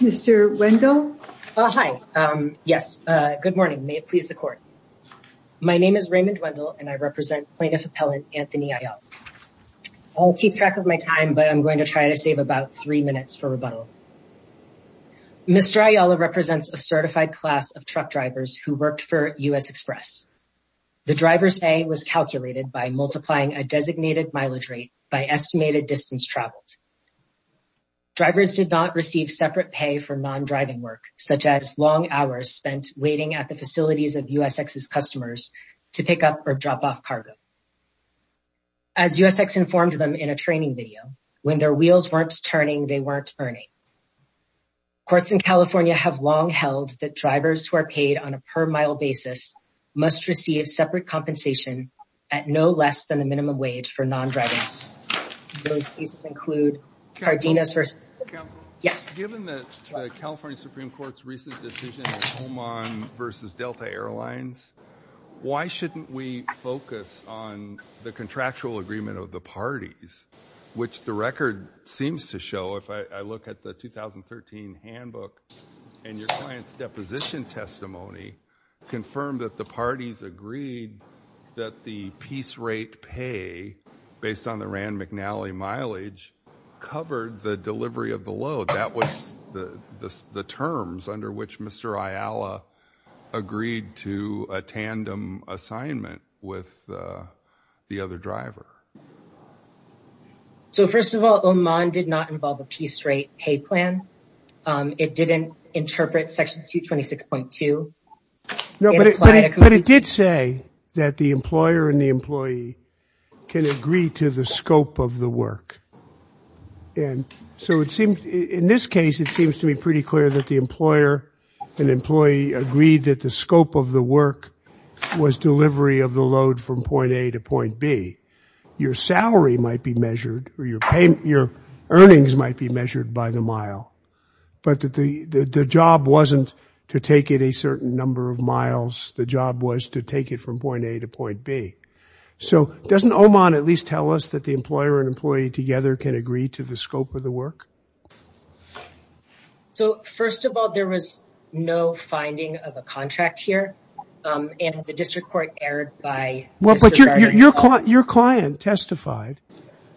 Mr. Wendell, hi, yes, good morning, may it please the court. My name is Raymond Wendell and I represent Plaintiff Appellant Anthony Ayala. I'll keep track of my time, but I'm going to try to save about three minutes for rebuttal. Mr. Ayala represents a certified class of truck drivers who worked for U.S. Express. The driver's pay was calculated by multiplying a designated mileage rate by estimated distance traveled. Drivers did not receive separate pay for non-driving work, such as long hours spent waiting at the facilities of U.S. X's customers to pick up or drop off cargo. As U.S. X informed them in a training video, when their wheels weren't turning, they weren't earning. Courts in California have long held that drivers who are paid on a per-mile basis must receive separate compensation at no less than the minimum wage for non-driving. Those cases include Cardenas versus- Counselor? Yes. Given the California Supreme Court's recent decision in Homon versus Delta Airlines, why shouldn't we focus on the contractual agreement of the parties, which the record seems to And your client's deposition testimony confirmed that the parties agreed that the piece rate pay based on the Rand McNally mileage covered the delivery of the load. That was the terms under which Mr. Ayala agreed to a tandem assignment with the other driver. So, first of all, Homon did not involve a piece rate pay plan. It didn't interpret Section 226.2. But it did say that the employer and the employee can agree to the scope of the work. And so it seems in this case, it seems to be pretty clear that the employer and employee agreed that the scope of the work was delivery of the load from point A to point B. Your salary might be measured or your earnings might be measured by the mile. But the job wasn't to take it a certain number of miles. The job was to take it from point A to point B. So doesn't Homon at least tell us that the employer and employee together can agree to the scope of the work? So, first of all, there was no finding of a contract here. And the district court erred by disregarding... Well, but your client testified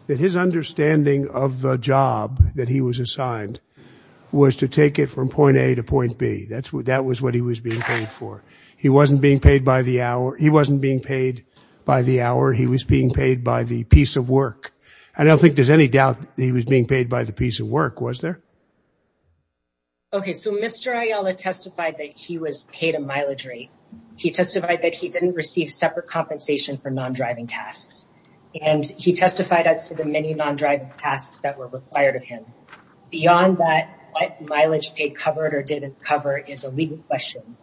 that his understanding of the job that he was assigned was to take it from point A to point B. That was what he was being paid for. He wasn't being paid by the hour. He wasn't being paid by the hour. He was being paid by the piece of work. I Okay. So Mr. Ayala testified that he was paid a mileage rate. He testified that he didn't receive separate compensation for non-driving tasks. And he testified as to the many non-driving tasks that were required of him. Beyond that, what mileage paid covered or didn't cover is a legal question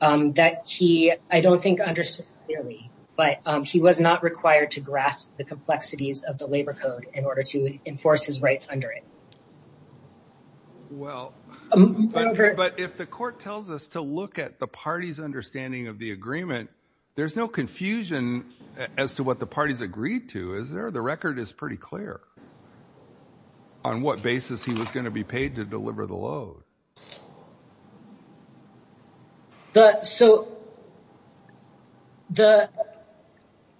that he, I don't think, understood clearly. But he was not required to grasp the complexities of the labor code in order to enforce his rights under it. Well, but if the court tells us to look at the party's understanding of the agreement, there's no confusion as to what the parties agreed to, is there? The record is pretty clear on what basis he was going to be paid to deliver the load. So,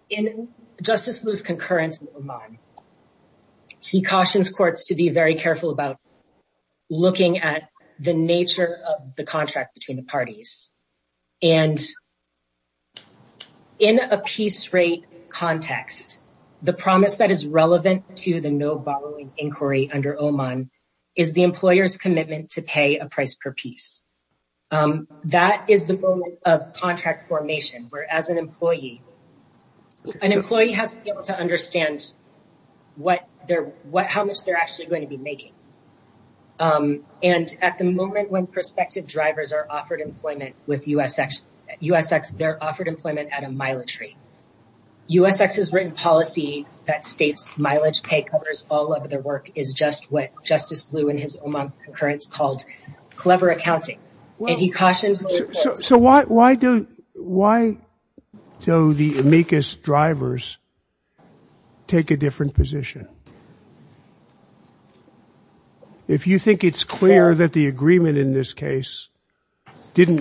in Justice Liu's concurrence in Oman, he cautions courts to be very careful about looking at the nature of the contract between the parties. And in a piece rate context, the promise that is relevant to the no borrowing inquiry under Oman is the employer's commitment to pay a price per piece. That is the moment of contract formation, where as an employee, an employee has to be able to understand how much they're actually going to be making. And at the moment when prospective drivers are offered employment with USX, they're offered employment at a mileage rate. USX's written policy that states mileage pay all of their work is just what Justice Liu in his Oman concurrence called clever accounting. So why do the amicus drivers take a different position? If you think it's clear that the agreement in this case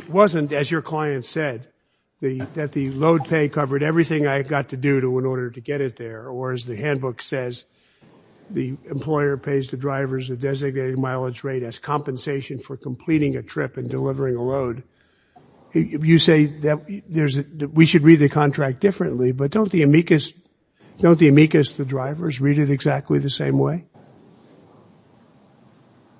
wasn't, as your client said, that the load pay covered everything I got to do in order to get it there, or as the handbook says, the employer pays the drivers a designated mileage rate as compensation for completing a trip and delivering a load. You say that we should read the contract differently, but don't the amicus drivers read it exactly the same way?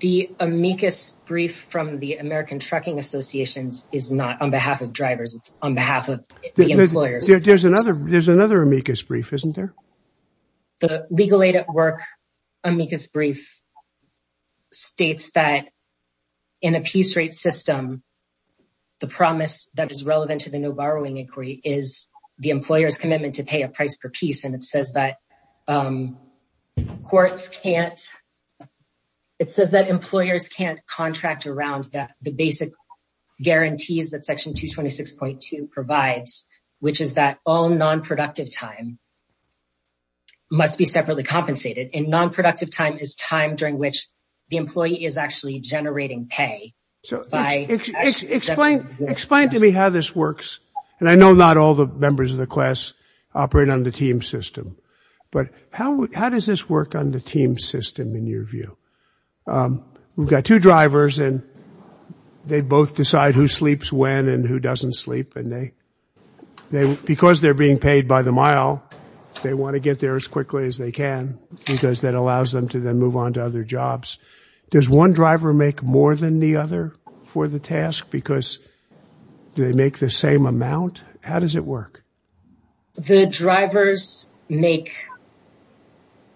The amicus brief from the American Trucking Associations is not on behalf of drivers, it's on behalf of the employers. There's another amicus brief, isn't there? The legal aid at work amicus brief states that in a piece rate system, the promise that is relevant to the no borrowing inquiry is the employer's commitment to pay a price per piece. And it says that courts can't, it says that employers can't contract around the basic guarantees that section 226.2 provides, which is that all non-productive time must be separately compensated. And non-productive time is time during which the employee is actually generating pay. Explain to me how this works. And I know not all the members of the class operate on the team system, but how does this work on the team system in your view? We've got two drivers and they both decide who sleeps when and who doesn't sleep. And because they're being paid by the mile, they want to get there as quickly as they can, because that allows them to then move on to other jobs. Does one driver make more than the other for the task? Because do they make the same amount? How does it work? The drivers make,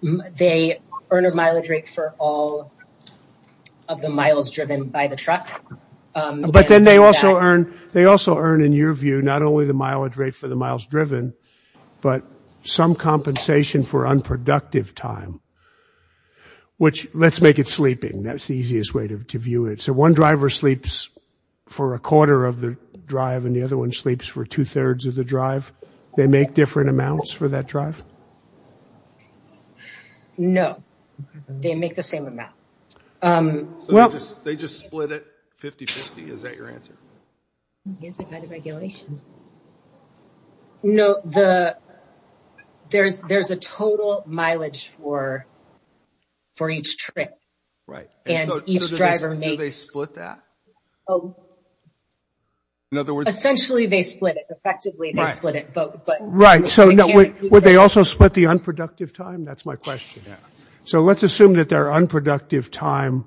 they earn a mileage rate for all of the miles driven by the truck. But then they also earn, they also earn in your view, not only the mileage rate for the miles driven, but some compensation for unproductive time, which let's make it sleeping. That's the easiest way to view it. So one driver sleeps for a quarter of the drive and the other one they make different amounts for that drive? No, they make the same amount. They just split it 50-50. Is that your answer? No, there's a total mileage for each trip. Right. And each driver makes- Do they split that? Oh, essentially they split it. Effectively they split it. Right. So would they also split the unproductive time? That's my question. So let's assume that their unproductive time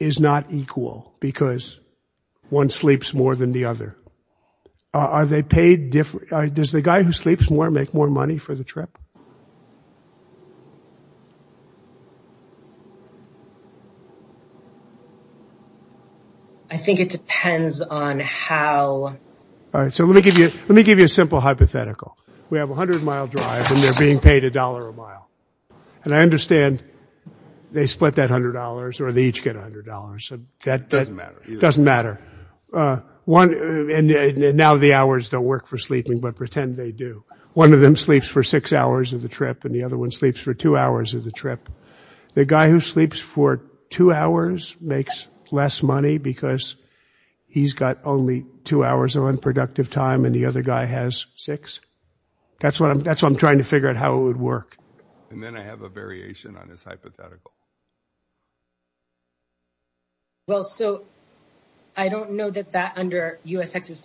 is not equal because one sleeps more than the other. Are they paid different? Does the guy who sleeps more make more money for the trip? I think it depends on how- All right. So let me give you, let me give you a simple hypothetical. We have a 100-mile drive and they're being paid a dollar a mile. And I understand they split that $100 or they each get $100. That doesn't matter. And now the hours don't work for sleeping, but pretend they do. One of them sleeps for six hours of the trip and the other one sleeps for two hours of the trip. The guy who sleeps for two hours makes less money because he's got only two hours of unproductive time and the other guy has six. That's what I'm, that's what I'm trying to figure out how it would work. And then I have a variation on this hypothetical. Well, so I don't know that that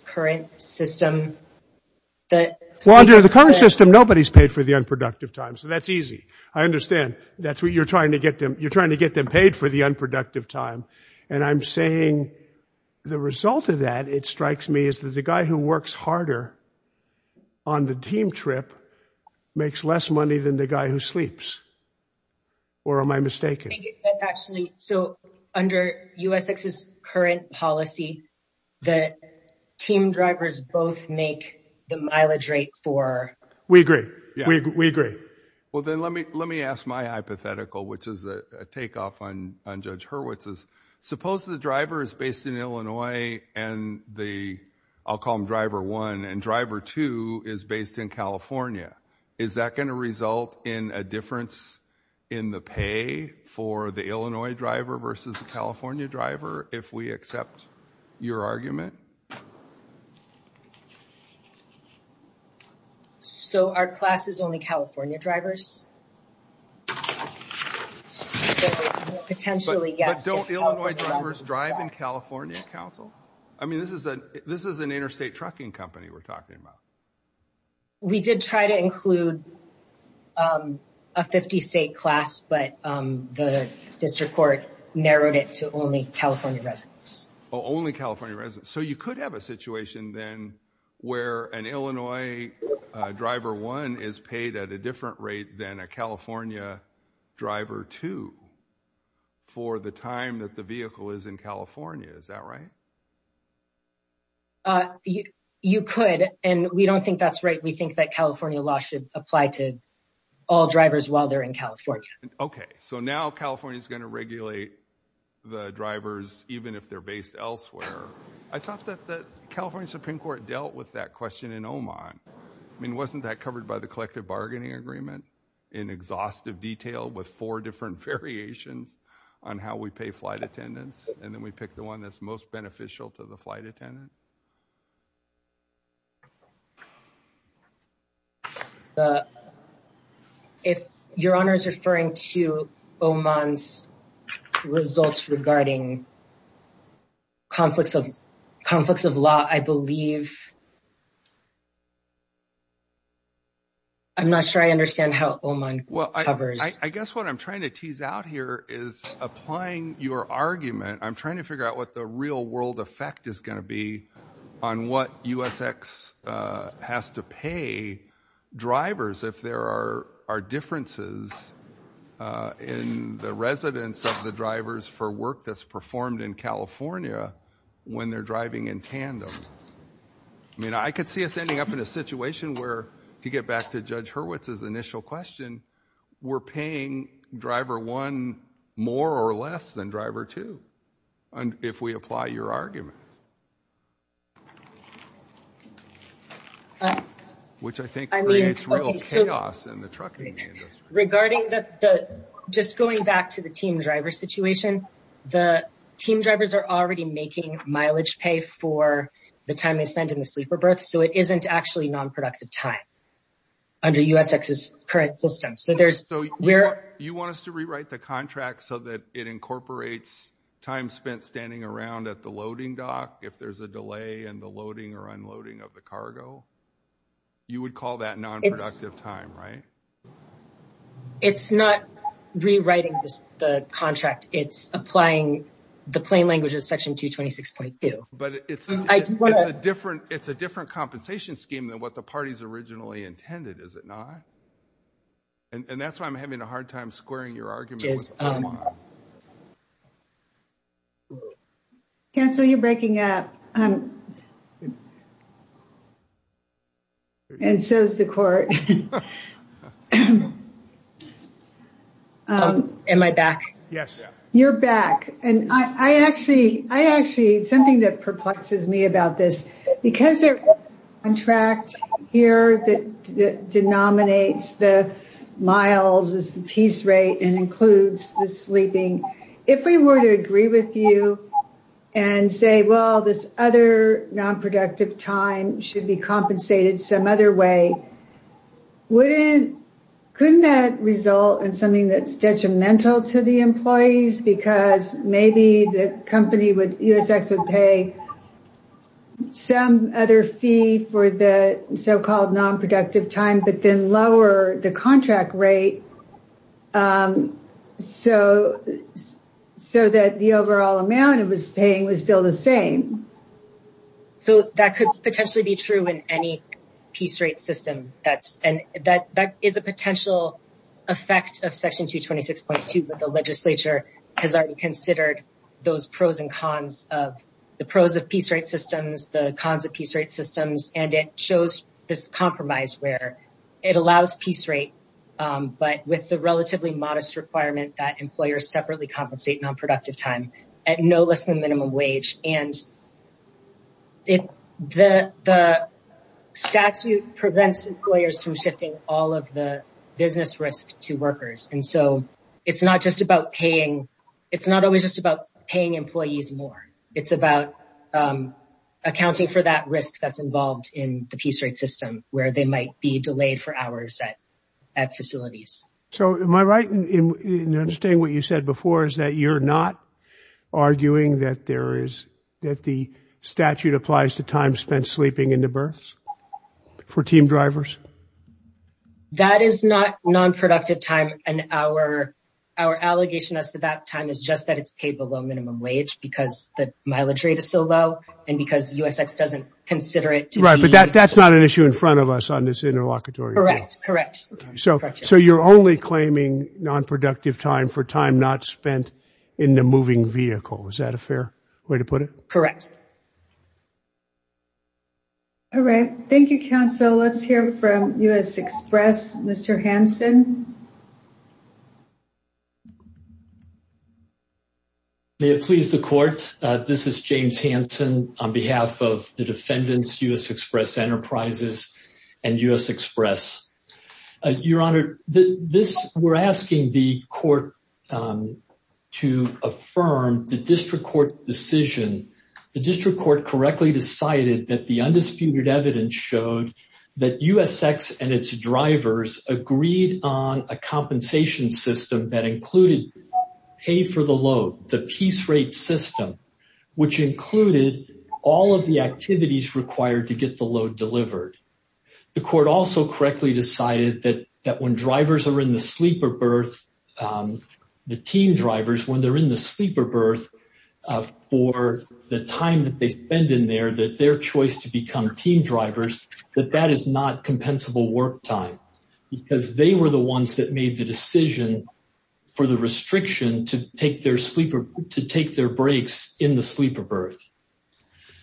current system that- Well, under the current system, nobody's paid for the unproductive time. So that's easy. I understand that's what you're trying to get them. You're trying to get them paid for the unproductive time. And I'm saying the result of that, it strikes me as the guy who works harder on the team trip makes less money than the guy who sleeps. Or am I mistaken? Actually, so under USX's current policy, the team drivers both make the mileage rate for- We agree. We agree. Well, then let me ask my hypothetical, which is a takeoff on Judge Hurwitz's. Suppose the driver is based in Illinois and the, I'll call him driver one, and driver two is based in California. Is that going to result in a difference in the pay for the Illinois driver versus the California driver, if we accept your argument? So our class is only California drivers? Potentially, yes. But don't Illinois drivers drive in California council? I mean, this is an interstate trucking company we're talking about. We did try to include a 50 state class, but the district court narrowed it to only California residents. Oh, only California residents. So you could have a situation then where an Illinois driver one is paid at a different rate than a California driver two for the time that the vehicle is in California. Is that right? You could, and we don't think that's right. We think that California law should apply to all drivers while they're in California. Okay. So now California is going to regulate the drivers, even if they're based elsewhere. I thought that the California Supreme Court dealt with that question in Oman. I mean, wasn't that covered by the collective bargaining agreement in exhaustive detail with four different variations on how we pay flight attendants? And then we pick the one that's most beneficial to the flight attendant. If your honor is referring to Oman's results regarding conflicts of law, I believe. I'm not sure I understand how Oman covers. I guess what I'm trying to tease out here is applying your argument. I'm trying to figure out what the real world effect is going to be on what USX has to pay drivers if there are differences in the residence of the drivers for work that's performed in California when they're driving in tandem. I mean, I could see us ending up in a situation where, to get back to Judge Hurwitz's initial question, we're paying driver one more or less than driver two, if we apply your argument. Which I think creates real chaos in the trucking industry. Regarding the, just going back to the team driver situation, the team drivers are already making mileage pay for the time they spend in the sleeper berth, so it isn't actually non-productive time under USX's current system. You want us to rewrite the contract so that it incorporates time spent standing around at the loading dock if there's a delay in the loading or unloading of the cargo? You would call that non-productive time, right? It's not rewriting the contract. It's applying the plain language of section 226.2. It's a different compensation scheme than what the party's originally intended, is it not? And that's why I'm having a hard time squaring your argument. Counsel, you're breaking up. And so is the court. Am I back? Yes. You're back. Something that perplexes me about this, because there's a contract here that denominates the miles as the piece rate and includes the sleeping, if we were to agree with you and say, well, this other non-productive time should be compensated some other way, wouldn't, couldn't that result in something that's detrimental to the employees? Because maybe the company would, USX would pay some other fee for the so-called non-productive time, but then lower the contract rate so that the overall amount it was paying was still the same. So that could potentially be true in any piece rate system. And that is a potential effect of section 226.2, but the legislature has already considered those pros and cons of the pros of piece rate systems, the cons of piece rate systems. And it shows this compromise where it allows piece rate, but with the relatively modest requirement that employers separately compensate non-productive time at no less than minimum wage. And it, the statute prevents employers from shifting all of the business risk to workers. And so it's not just about paying, it's not always just about paying employees more. It's about accounting for that risk that's involved in the piece rate system where they might be delayed for hours at facilities. So am I right in understanding what you said before is that you're not arguing that there is, that the statute applies to time spent sleeping into births for team drivers? That is not non-productive time. And our, our allegation as to that time is just that it's paid below minimum wage because the mileage rate is so low and because USX doesn't consider it. Right. But that, that's not an issue in front of us on this interlocutory. Correct. Correct. So you're only claiming non-productive time for time not spent in the moving vehicle. Is that a fair way to put it? Correct. All right. Thank you, counsel. Let's hear from US Express, Mr. Hanson. May it please the court. This is James Hanson on behalf of the defendants, US Express Enterprises and US Express. Your Honor, this, we're asking the court to affirm the district court decision. The district court correctly decided that the undisputed evidence showed that USX and its drivers agreed on a compensation system that to get the load delivered. The court also correctly decided that when drivers are in the sleeper birth, the team drivers, when they're in the sleeper birth for the time that they spend in there, that their choice to become team drivers, that that is not compensable work time because they were the ones that made the decision for the restriction to take their sleeper, to take their breaks in the sleeper birth.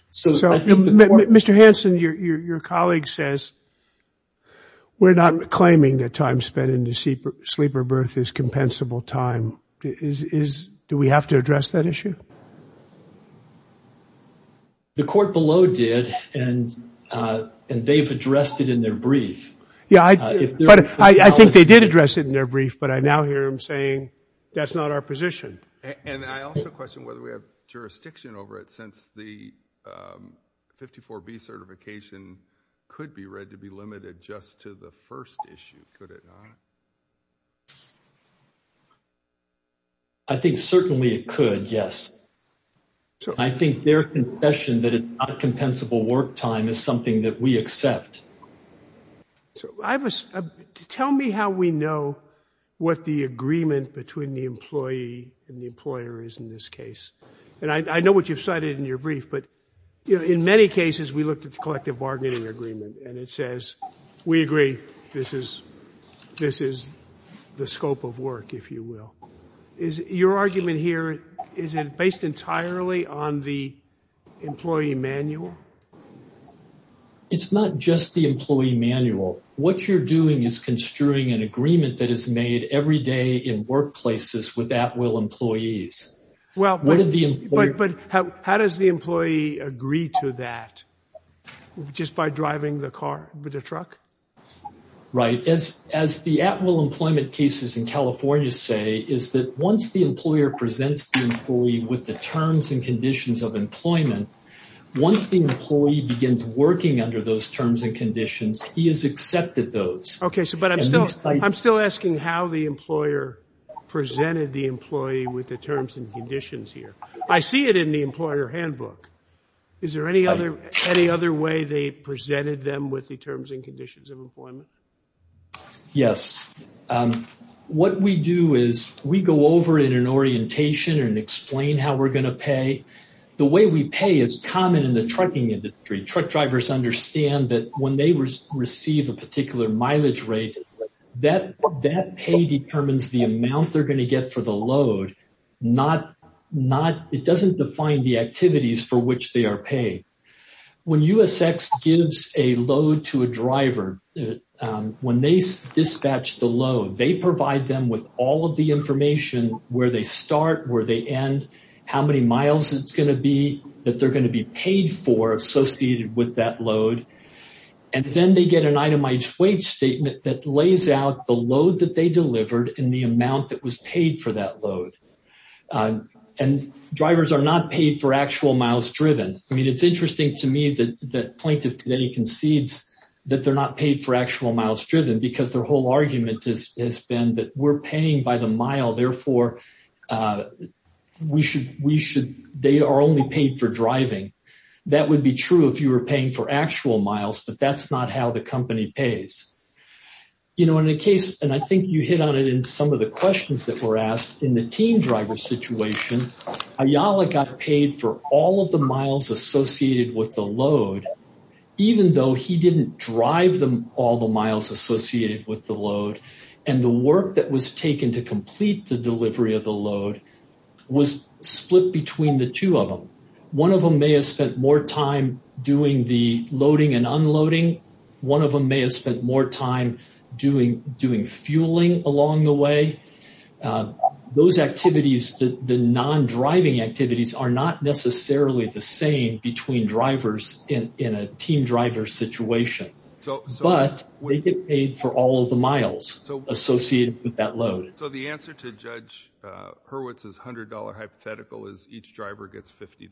So, Mr. Hanson, your colleague says we're not claiming that time spent in the sleeper birth is compensable time. Do we have to address that issue? The court below did, and they've addressed it in their brief. Yeah, but I think they did address it in their brief, but I now hear him saying that's not our position. And I also question whether we have jurisdiction over it since the 54B certification could be read to be limited just to the first issue. Could it not? I think certainly it could, yes. I think their confession that it's not compensable work time is something that we accept. So tell me how we know what the agreement between the employee and the employer is in this case. And I know what you've cited in your brief, but in many cases, we looked at the collective bargaining agreement and it says, we agree this is the scope of work, if you will. Is your argument here, is it based entirely on the employee manual? It's not just the employee manual. What you're doing is construing an agreement that is made every day in workplaces with at-will employees. Well, but how does the employee agree to that? Just by driving the car with a truck? Right. As the at-will employment cases in California say is that once the employer presents the employee with the terms and conditions of employment, once the employee begins working under those terms and conditions, he has accepted those. I'm still asking how the employer presented the employee with the terms and conditions here. I see it in the employer handbook. Is there any other way they presented them with the terms and conditions of employment? Yes. What we do is we go over in an orientation and explain how we're going to pay. The way we pay is common in the trucking industry. Truck drivers understand that when they receive a particular mileage rate, that pay determines the amount they're going to get for the load. It doesn't define the activities for which they are paid. When USX gives a load to a driver, when they dispatch the load, they provide them with all the information, where they start, where they end, how many miles it's going to be, that they're going to be paid for associated with that load. Then they get an itemized weight statement that lays out the load that they delivered and the amount that was paid for that load. Drivers are not paid for actual miles driven. It's interesting to me that the plaintiff concedes that they're not paid for actual mile, therefore, they are only paid for driving. That would be true if you were paying for actual miles, but that's not how the company pays. I think you hit on it in some of the questions that were asked. In the team driver situation, Ayala got paid for all of the miles associated with the load, even though he didn't drive all the miles associated with the load. The work that was taken to complete the delivery of the load was split between the two of them. One of them may have spent more time doing the loading and unloading. One of them may have spent more time doing fueling along the way. Those activities, the non-driving activities are not necessarily the same between drivers in a team driver situation, but they get paid for all of the miles. Associated with that load. So the answer to Judge Hurwitz's $100 hypothetical is each driver gets $50.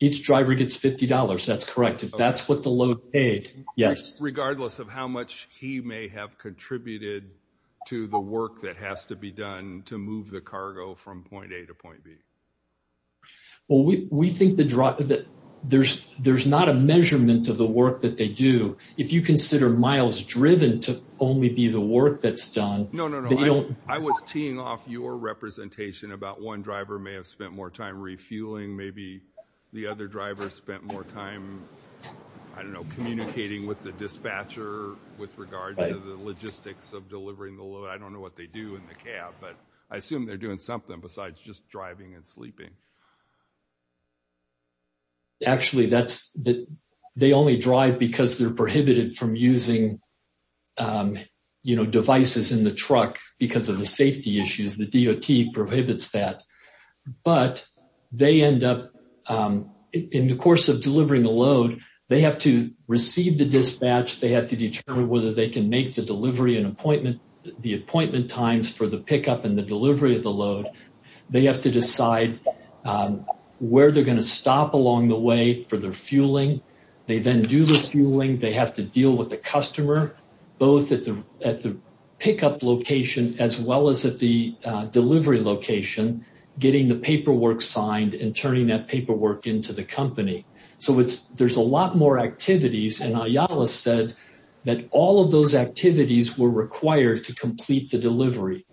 Each driver gets $50. That's correct. If that's what the load paid, yes. Regardless of how much he may have contributed to the work that has to be done to move the cargo from point A to point B. Well, we think that there's not a measurement of the work that they do. If you consider miles driven to only be the work that's done. No, no, no. I was teeing off your representation about one driver may have spent more time refueling. Maybe the other driver spent more time, I don't know, communicating with the dispatcher with regard to the logistics of delivering the load. I don't know what they do in the cab, but I assume they're doing something besides just driving and sleeping. Actually, they only drive because they're prohibited from using devices in the truck because of the safety issues. The DOT prohibits that. But they end up, in the course of delivering the load, they have to receive the dispatch. They have to determine whether they can make the delivery and the appointment times for the pickup and the delivery of the load. They have to decide where they're going to stop along the way for their fueling. They then do the fueling. They have to deal with the customer, both at the pickup location as well as at the delivery location, getting the paperwork signed and turning that paperwork into the company. So there's a lot more activities. And Ayala said that all of those activities were required to complete the delivery.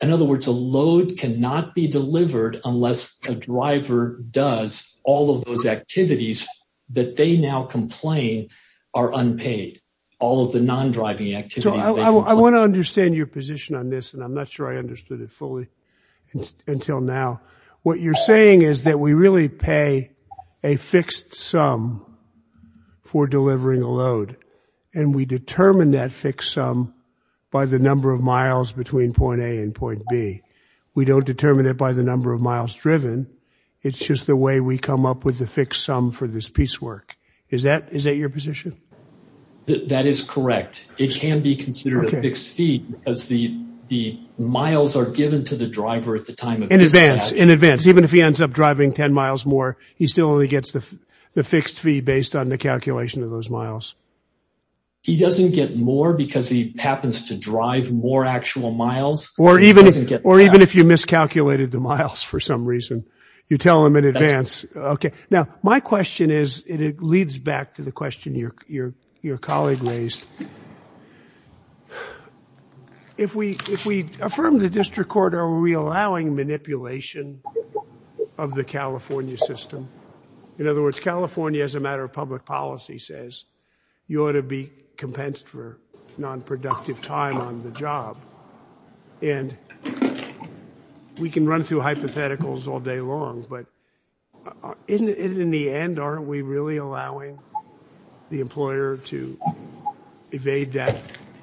In other words, a load cannot be delivered unless a driver does all of those activities that they now complain are unpaid, all of the non-driving activities. So I want to understand your position on this. And I'm not sure I understood it fully until now. What you're saying is that we really pay a fixed sum for delivering a load. And we determine that fixed sum by the number of miles between point A and point B. We don't determine it by the number of miles driven. It's just the way we come up with the fixed sum for this piecework. Is that your position? That is correct. It can be considered a fixed fee because the miles are given to the driver at the time. In advance, in advance. Even if he ends up driving 10 miles more, he still only gets the fixed fee based on the calculation of those miles. He doesn't get more because he happens to drive more actual miles. Or even if you miscalculated the miles for some reason, you tell him in advance. Okay. Now, my question is, and it leads back to the question your colleague raised. If we affirm the district court, are we allowing manipulation of the California system? In other words, California as a matter of public policy says, you ought to be compensated for nonproductive time on the job. And we can run through hypotheticals all day long, but isn't it in the end, aren't we really allowing the employer to evade that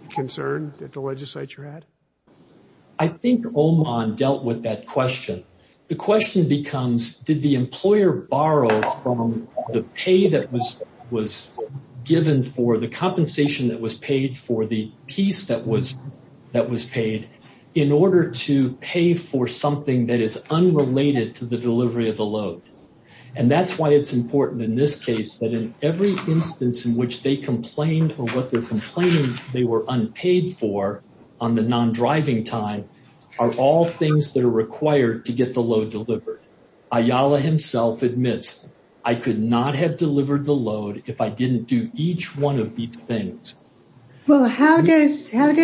concern that the legislature had? I think Oman dealt with that question. The question becomes, did the employer borrow from the pay that was given for the compensation that was paid for the piece that was paid in order to pay for something that is unrelated to the delivery of the load? And that's why it's important in this case that in every instance in which they complained or what they're complaining they were unpaid for on the non-driving time are all things that are required to get the load delivered. Ayala himself admits, I could not have delivered the load if I didn't do each one of these things. Well, how does having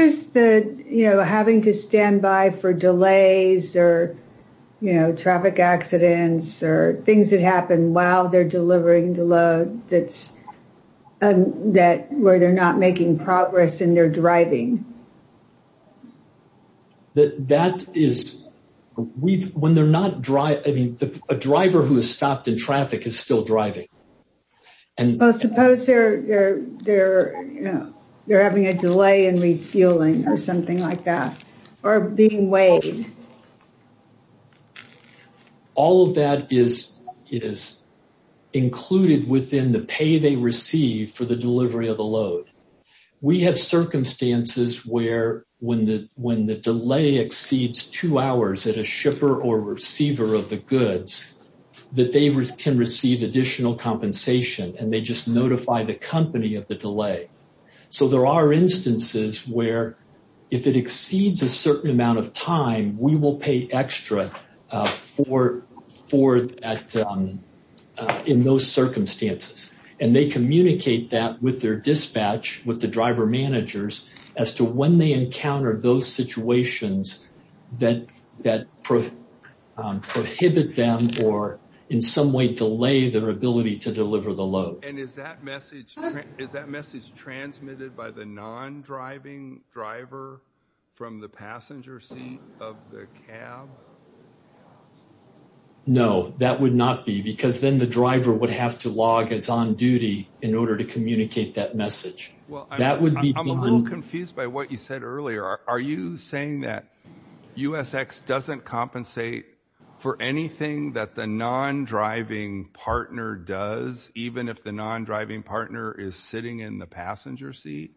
to stand by for delays or traffic accidents or things that happen while they're delivering the load where they're not making progress and they're driving? That is, when they're not driving, I mean, a driver who has stopped in traffic is still driving. Well, suppose they're having a delay in refueling or something like that or being weighed. All of that is included within the pay they receive for the delivery of the load. We have circumstances where when the delay exceeds two hours at a shipper or receiver of the goods that they can receive additional compensation and they just notify the company of the delay. So there are instances where if it exceeds a certain amount of time, we will pay extra in those circumstances. They communicate that with their dispatch, with the driver managers, as to when they encounter those situations that prohibit them or in some way delay their ability to deliver the load. And is that message transmitted by the non-driving driver from the passenger seat of the cab? No, that would not be, because then the driver would have to log as on-duty in order to communicate that message. Well, I'm a little confused by what you said earlier. Are you saying that USX doesn't compensate for anything that the non-driving partner does, even if the non-driving partner is sitting in the passenger seat?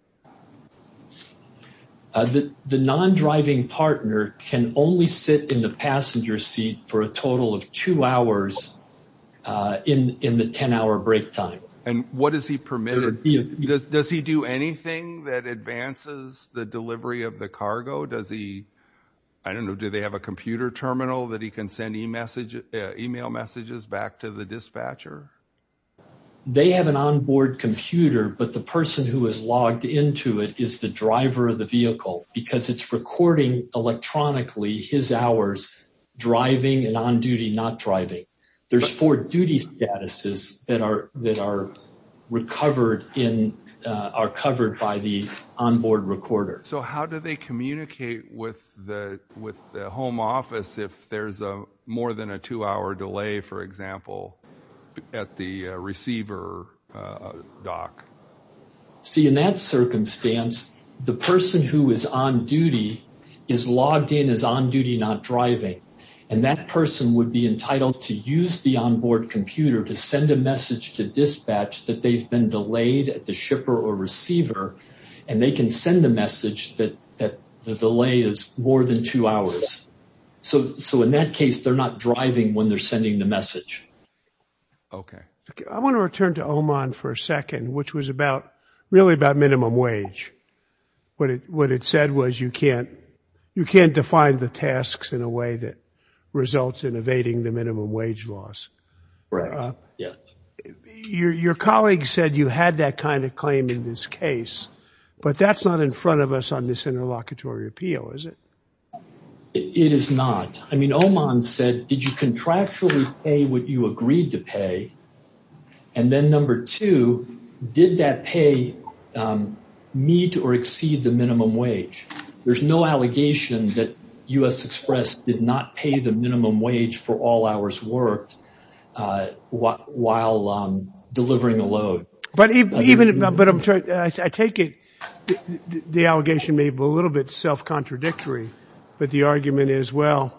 The non-driving partner can only sit in the passenger seat for a total of two hours in the 10-hour break time. And what does he permit? Does he do anything that advances the delivery of the cargo? Does he, I don't know, do they have a computer terminal that he can send email messages back to the dispatcher? They have an on-board computer, but the person who is logged into it is the driver of the vehicle, because it's recording electronically his hours driving and on-duty not driving. There's four duty statuses that are covered by the on-board recorder. So how do they communicate with the home office if there's more than a two-hour delay, for example, at the receiver dock? See, in that circumstance, the person who is on duty is logged in as on-duty not driving. And that person would be entitled to use the on-board computer to send a message to dispatch that they've been delayed at the shipper or receiver. And they can send the message that the delay is more than two hours. So in that case, they're not driving when they're sending the message. OK. I want to return to Oman for a second, which was really about minimum wage. What it said was you can't define the tasks in a way that results in evading the minimum wage laws. Right, yeah. Your colleague said you had that kind of claim in this case, but that's not in front of us on this interlocutory appeal, is it? It is not. I mean, Oman said, did you contractually pay what you agreed to pay? And then number two, did that pay meet or exceed the minimum wage? There's no allegation that U.S. Express did not pay the minimum wage for all hours worked while delivering a load. But I take it the allegation may be a little bit self-contradictory, but the argument is, well,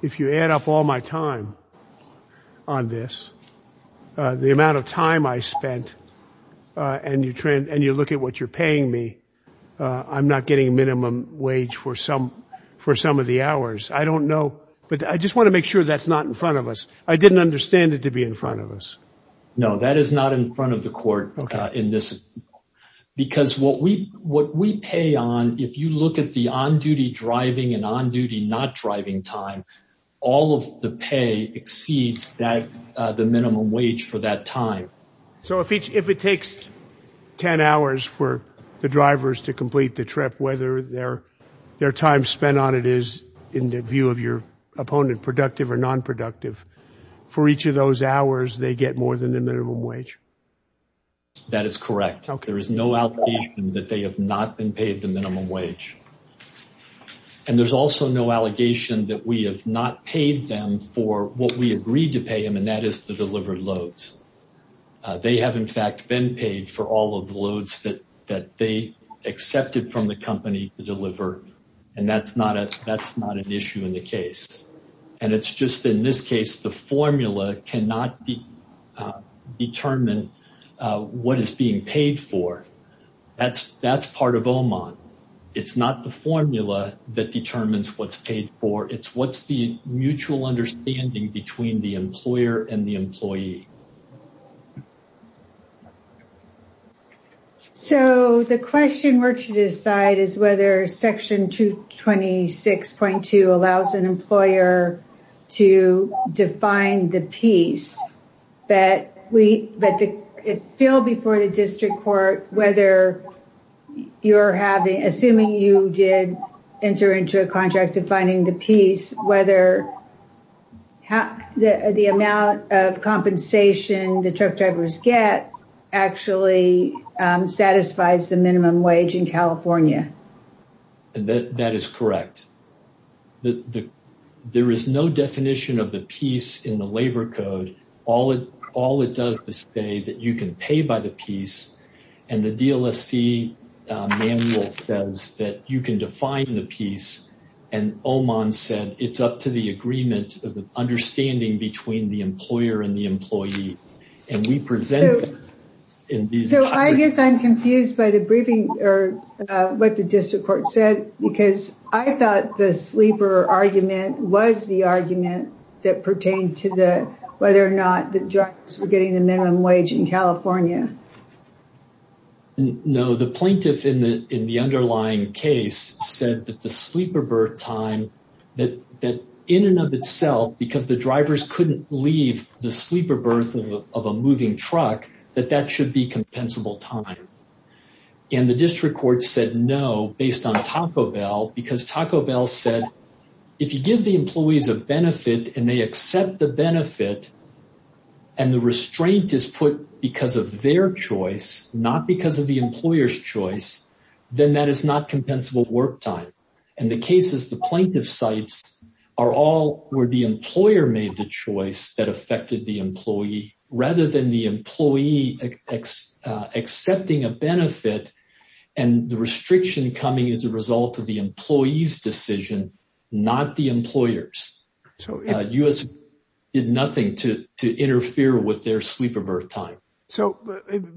if you add up all my time on this, the amount of time I spent and you look at what you're paying me, I'm not getting minimum wage for some of the hours. I don't know. But I just want to make sure that's not in front of us. I didn't understand it to be in front of us. No, that is not in front of the court in this. Because what we pay on, if you look at the on-duty driving and on-duty not driving time, all of the pay exceeds the minimum wage for that time. So if it takes 10 hours for the drivers to complete the trip, whether their time spent on it is, in the view of your opponent, productive or non-productive, for each of those hours, they get more than the minimum wage. That is correct. There is no allegation that they have not been paid the minimum wage. And there's also no allegation that we have not paid them for what we agreed to pay them, and that is to deliver loads. They have, in fact, been paid for all of the loads that they accepted from the company to deliver, and that's not an issue in the case. And it's just, in this case, the formula cannot determine what is being paid for. That's part of OMON. It's not the formula that determines what's paid for. It's what's the mutual understanding between the employer and the employee. So the question we're to decide is whether Section 226.2 allows an employer to define the piece. But it's still before the district court whether you're having, assuming you did enter into a contract defining the piece, whether the amount of compensation that you're paying for the truck drivers get actually satisfies the minimum wage in California. That is correct. There is no definition of the piece in the labor code. All it does is say that you can pay by the piece, and the DLSC manual says that you can define the piece, and OMON said it's up to the agreement of the understanding between the and we present in these. So I guess I'm confused by the briefing or what the district court said, because I thought the sleeper argument was the argument that pertained to the whether or not the drivers were getting the minimum wage in California. No, the plaintiff in the underlying case said that the sleeper birth time, that in and of itself, because the drivers couldn't leave the sleeper birth of a moving truck, that that should be compensable time. And the district court said no, based on Taco Bell, because Taco Bell said if you give the employees a benefit, and they accept the benefit, and the restraint is put because of their choice, not because of the employer's choice, then that is not compensable work time. And the cases the plaintiff cites are all where the employer made the choice that affected the employee, rather than the employee accepting a benefit, and the restriction coming as a result of the employee's decision, not the employer's. U.S. did nothing to interfere with their sleeper birth time. So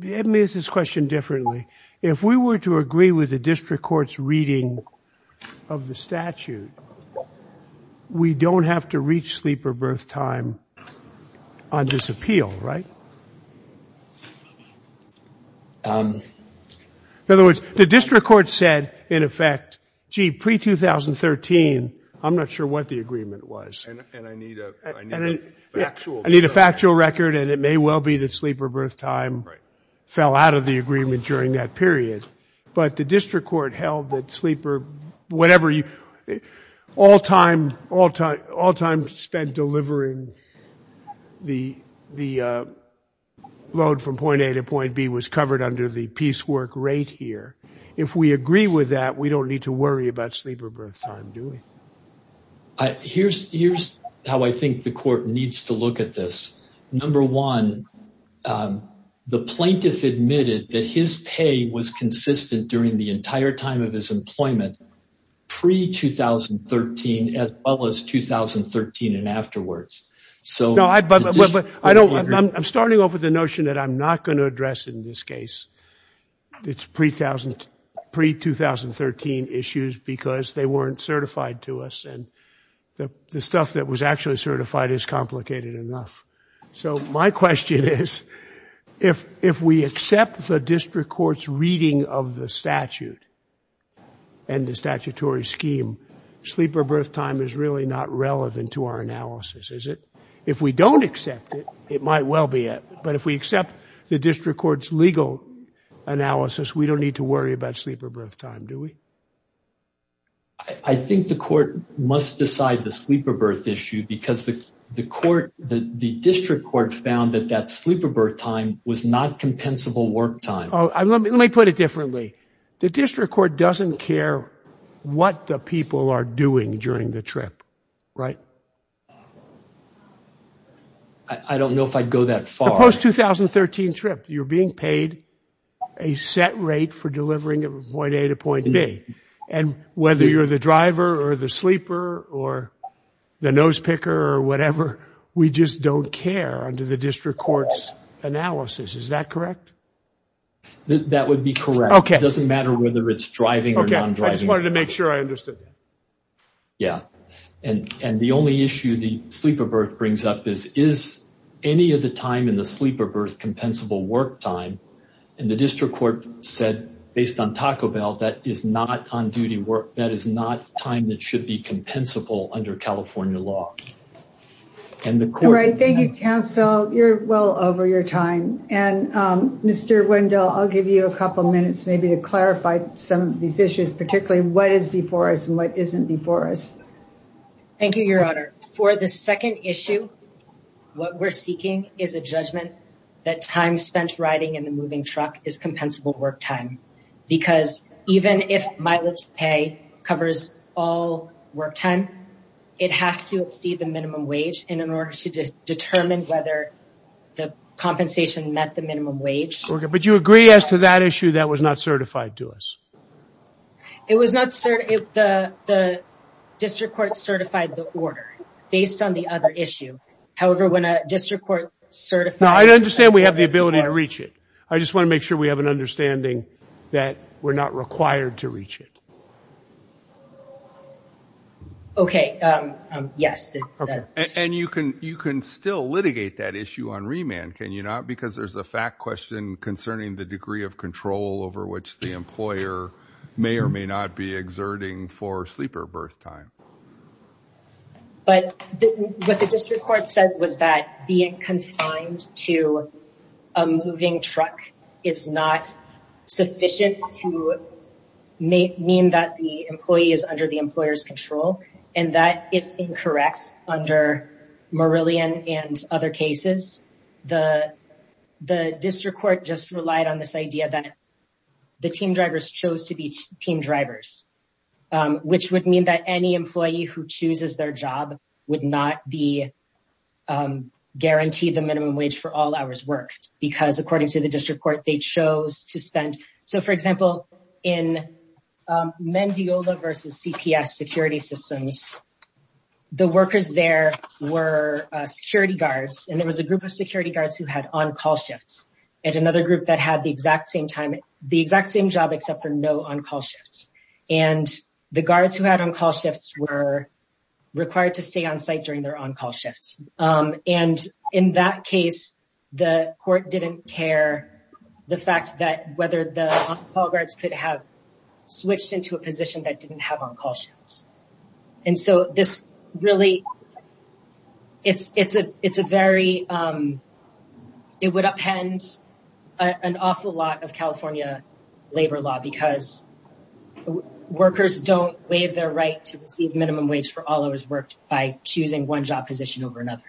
let me ask this question differently. If we were to agree with the district court's reading of the statute, we don't have to reach sleeper birth time on this appeal, right? In other words, the district court said, in effect, gee, pre-2013, I'm not sure what the agreement was. And I need a factual record. I need a factual record, and it may well be that sleeper birth time fell out of the agreement during that period. But the district court held that sleeper, whatever, all time spent delivering the load from point A to point B was covered under the piecework rate here. If we agree with that, we don't need to worry about sleeper birth time, do we? Here's how I think the court needs to look at this. Number one, the plaintiff admitted that his pay was consistent during the entire time of his employment, pre-2013, as well as 2013 and afterwards. I'm starting off with the notion that I'm not going to address in this case pre-2013 issues because they weren't certified to us. And the stuff that was actually certified is complicated enough. So my question is, if we accept the district court's reading of the statute and the statutory scheme, sleeper birth time is really not relevant to our analysis, is it? If we don't accept it, it might well be it. But if we accept the district court's legal analysis, we don't need to worry about sleeper birth time, do we? I think the court must decide the sleeper birth issue because the court, the district court, found that that sleeper birth time was not compensable work time. Oh, let me put it differently. The district court doesn't care what the people are doing during the trip, right? I don't know if I'd go that far. The post-2013 trip, you're being paid a set rate for delivering from point A to point B. And whether you're the driver or the sleeper or the nose picker or whatever, we just don't care under the district court's analysis. Is that correct? That would be correct. Okay. It doesn't matter whether it's driving or non-driving. Okay. I just wanted to make sure I understood. Yeah. And the only issue the sleeper birth brings up is, is any of the time in the sleeper birth compensable work time? And the district court said, based on Taco Bell, that is not on duty work. That is not time that should be compensable under California law. And the court- All right. Thank you, counsel. You're well over your time. And Mr. Wendell, I'll give you a couple minutes maybe to clarify some of these issues, particularly what is before us and what isn't before us. Thank you, your honor. For the second issue, what we're seeking is a judgment that time spent riding in the moving truck is compensable work time. Because even if mileage pay covers all work time, it has to exceed the minimum wage in order to determine whether the compensation met the minimum wage. But you agree as to that issue that was not certified to us? It was not certified. The district court certified the order based on the other issue. However, when a district court certified- I understand we have the ability to reach it. I just want to make sure we have an understanding that we're not required to reach it. Okay. Yes. And you can still litigate that issue on remand, can you not? Because there's a fact question concerning the degree of control over which the employer may or may not be exerting for sleeper birth time. Okay. But what the district court said was that being confined to a moving truck is not sufficient to mean that the employee is under the employer's control. And that is incorrect under Marillion and other cases. The district court just relied on this idea that the team drivers chose to be team drivers, which would mean that any employee who chooses their job would not be guaranteed the minimum wage for all hours worked. Because according to the district court, they chose to spend- So for example, in Mendiola versus CPS security systems, the workers there were security guards. And there was a group of security guards who had on-call shifts. And another group that had the exact same job except for no on-call shifts. And the guards who had on-call shifts were required to stay on site during their on-call shifts. And in that case, the court didn't care the fact that whether the on-call guards could have switched into a position that didn't have on-call shifts. And so this really, it's a very- An awful lot of California labor law, because workers don't waive their right to receive minimum wage for all hours worked by choosing one job position over another.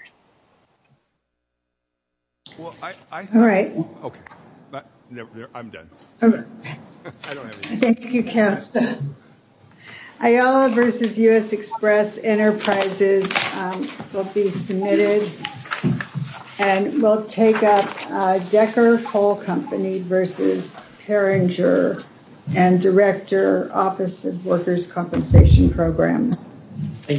Well, I- All right. Okay, I'm done. Thank you, counsel. Ayala versus U.S. Express Enterprises will be submitted. And we'll take up Decker Coal Company versus Peringer and Director, Office of Workers' Compensation Programs. Thank you.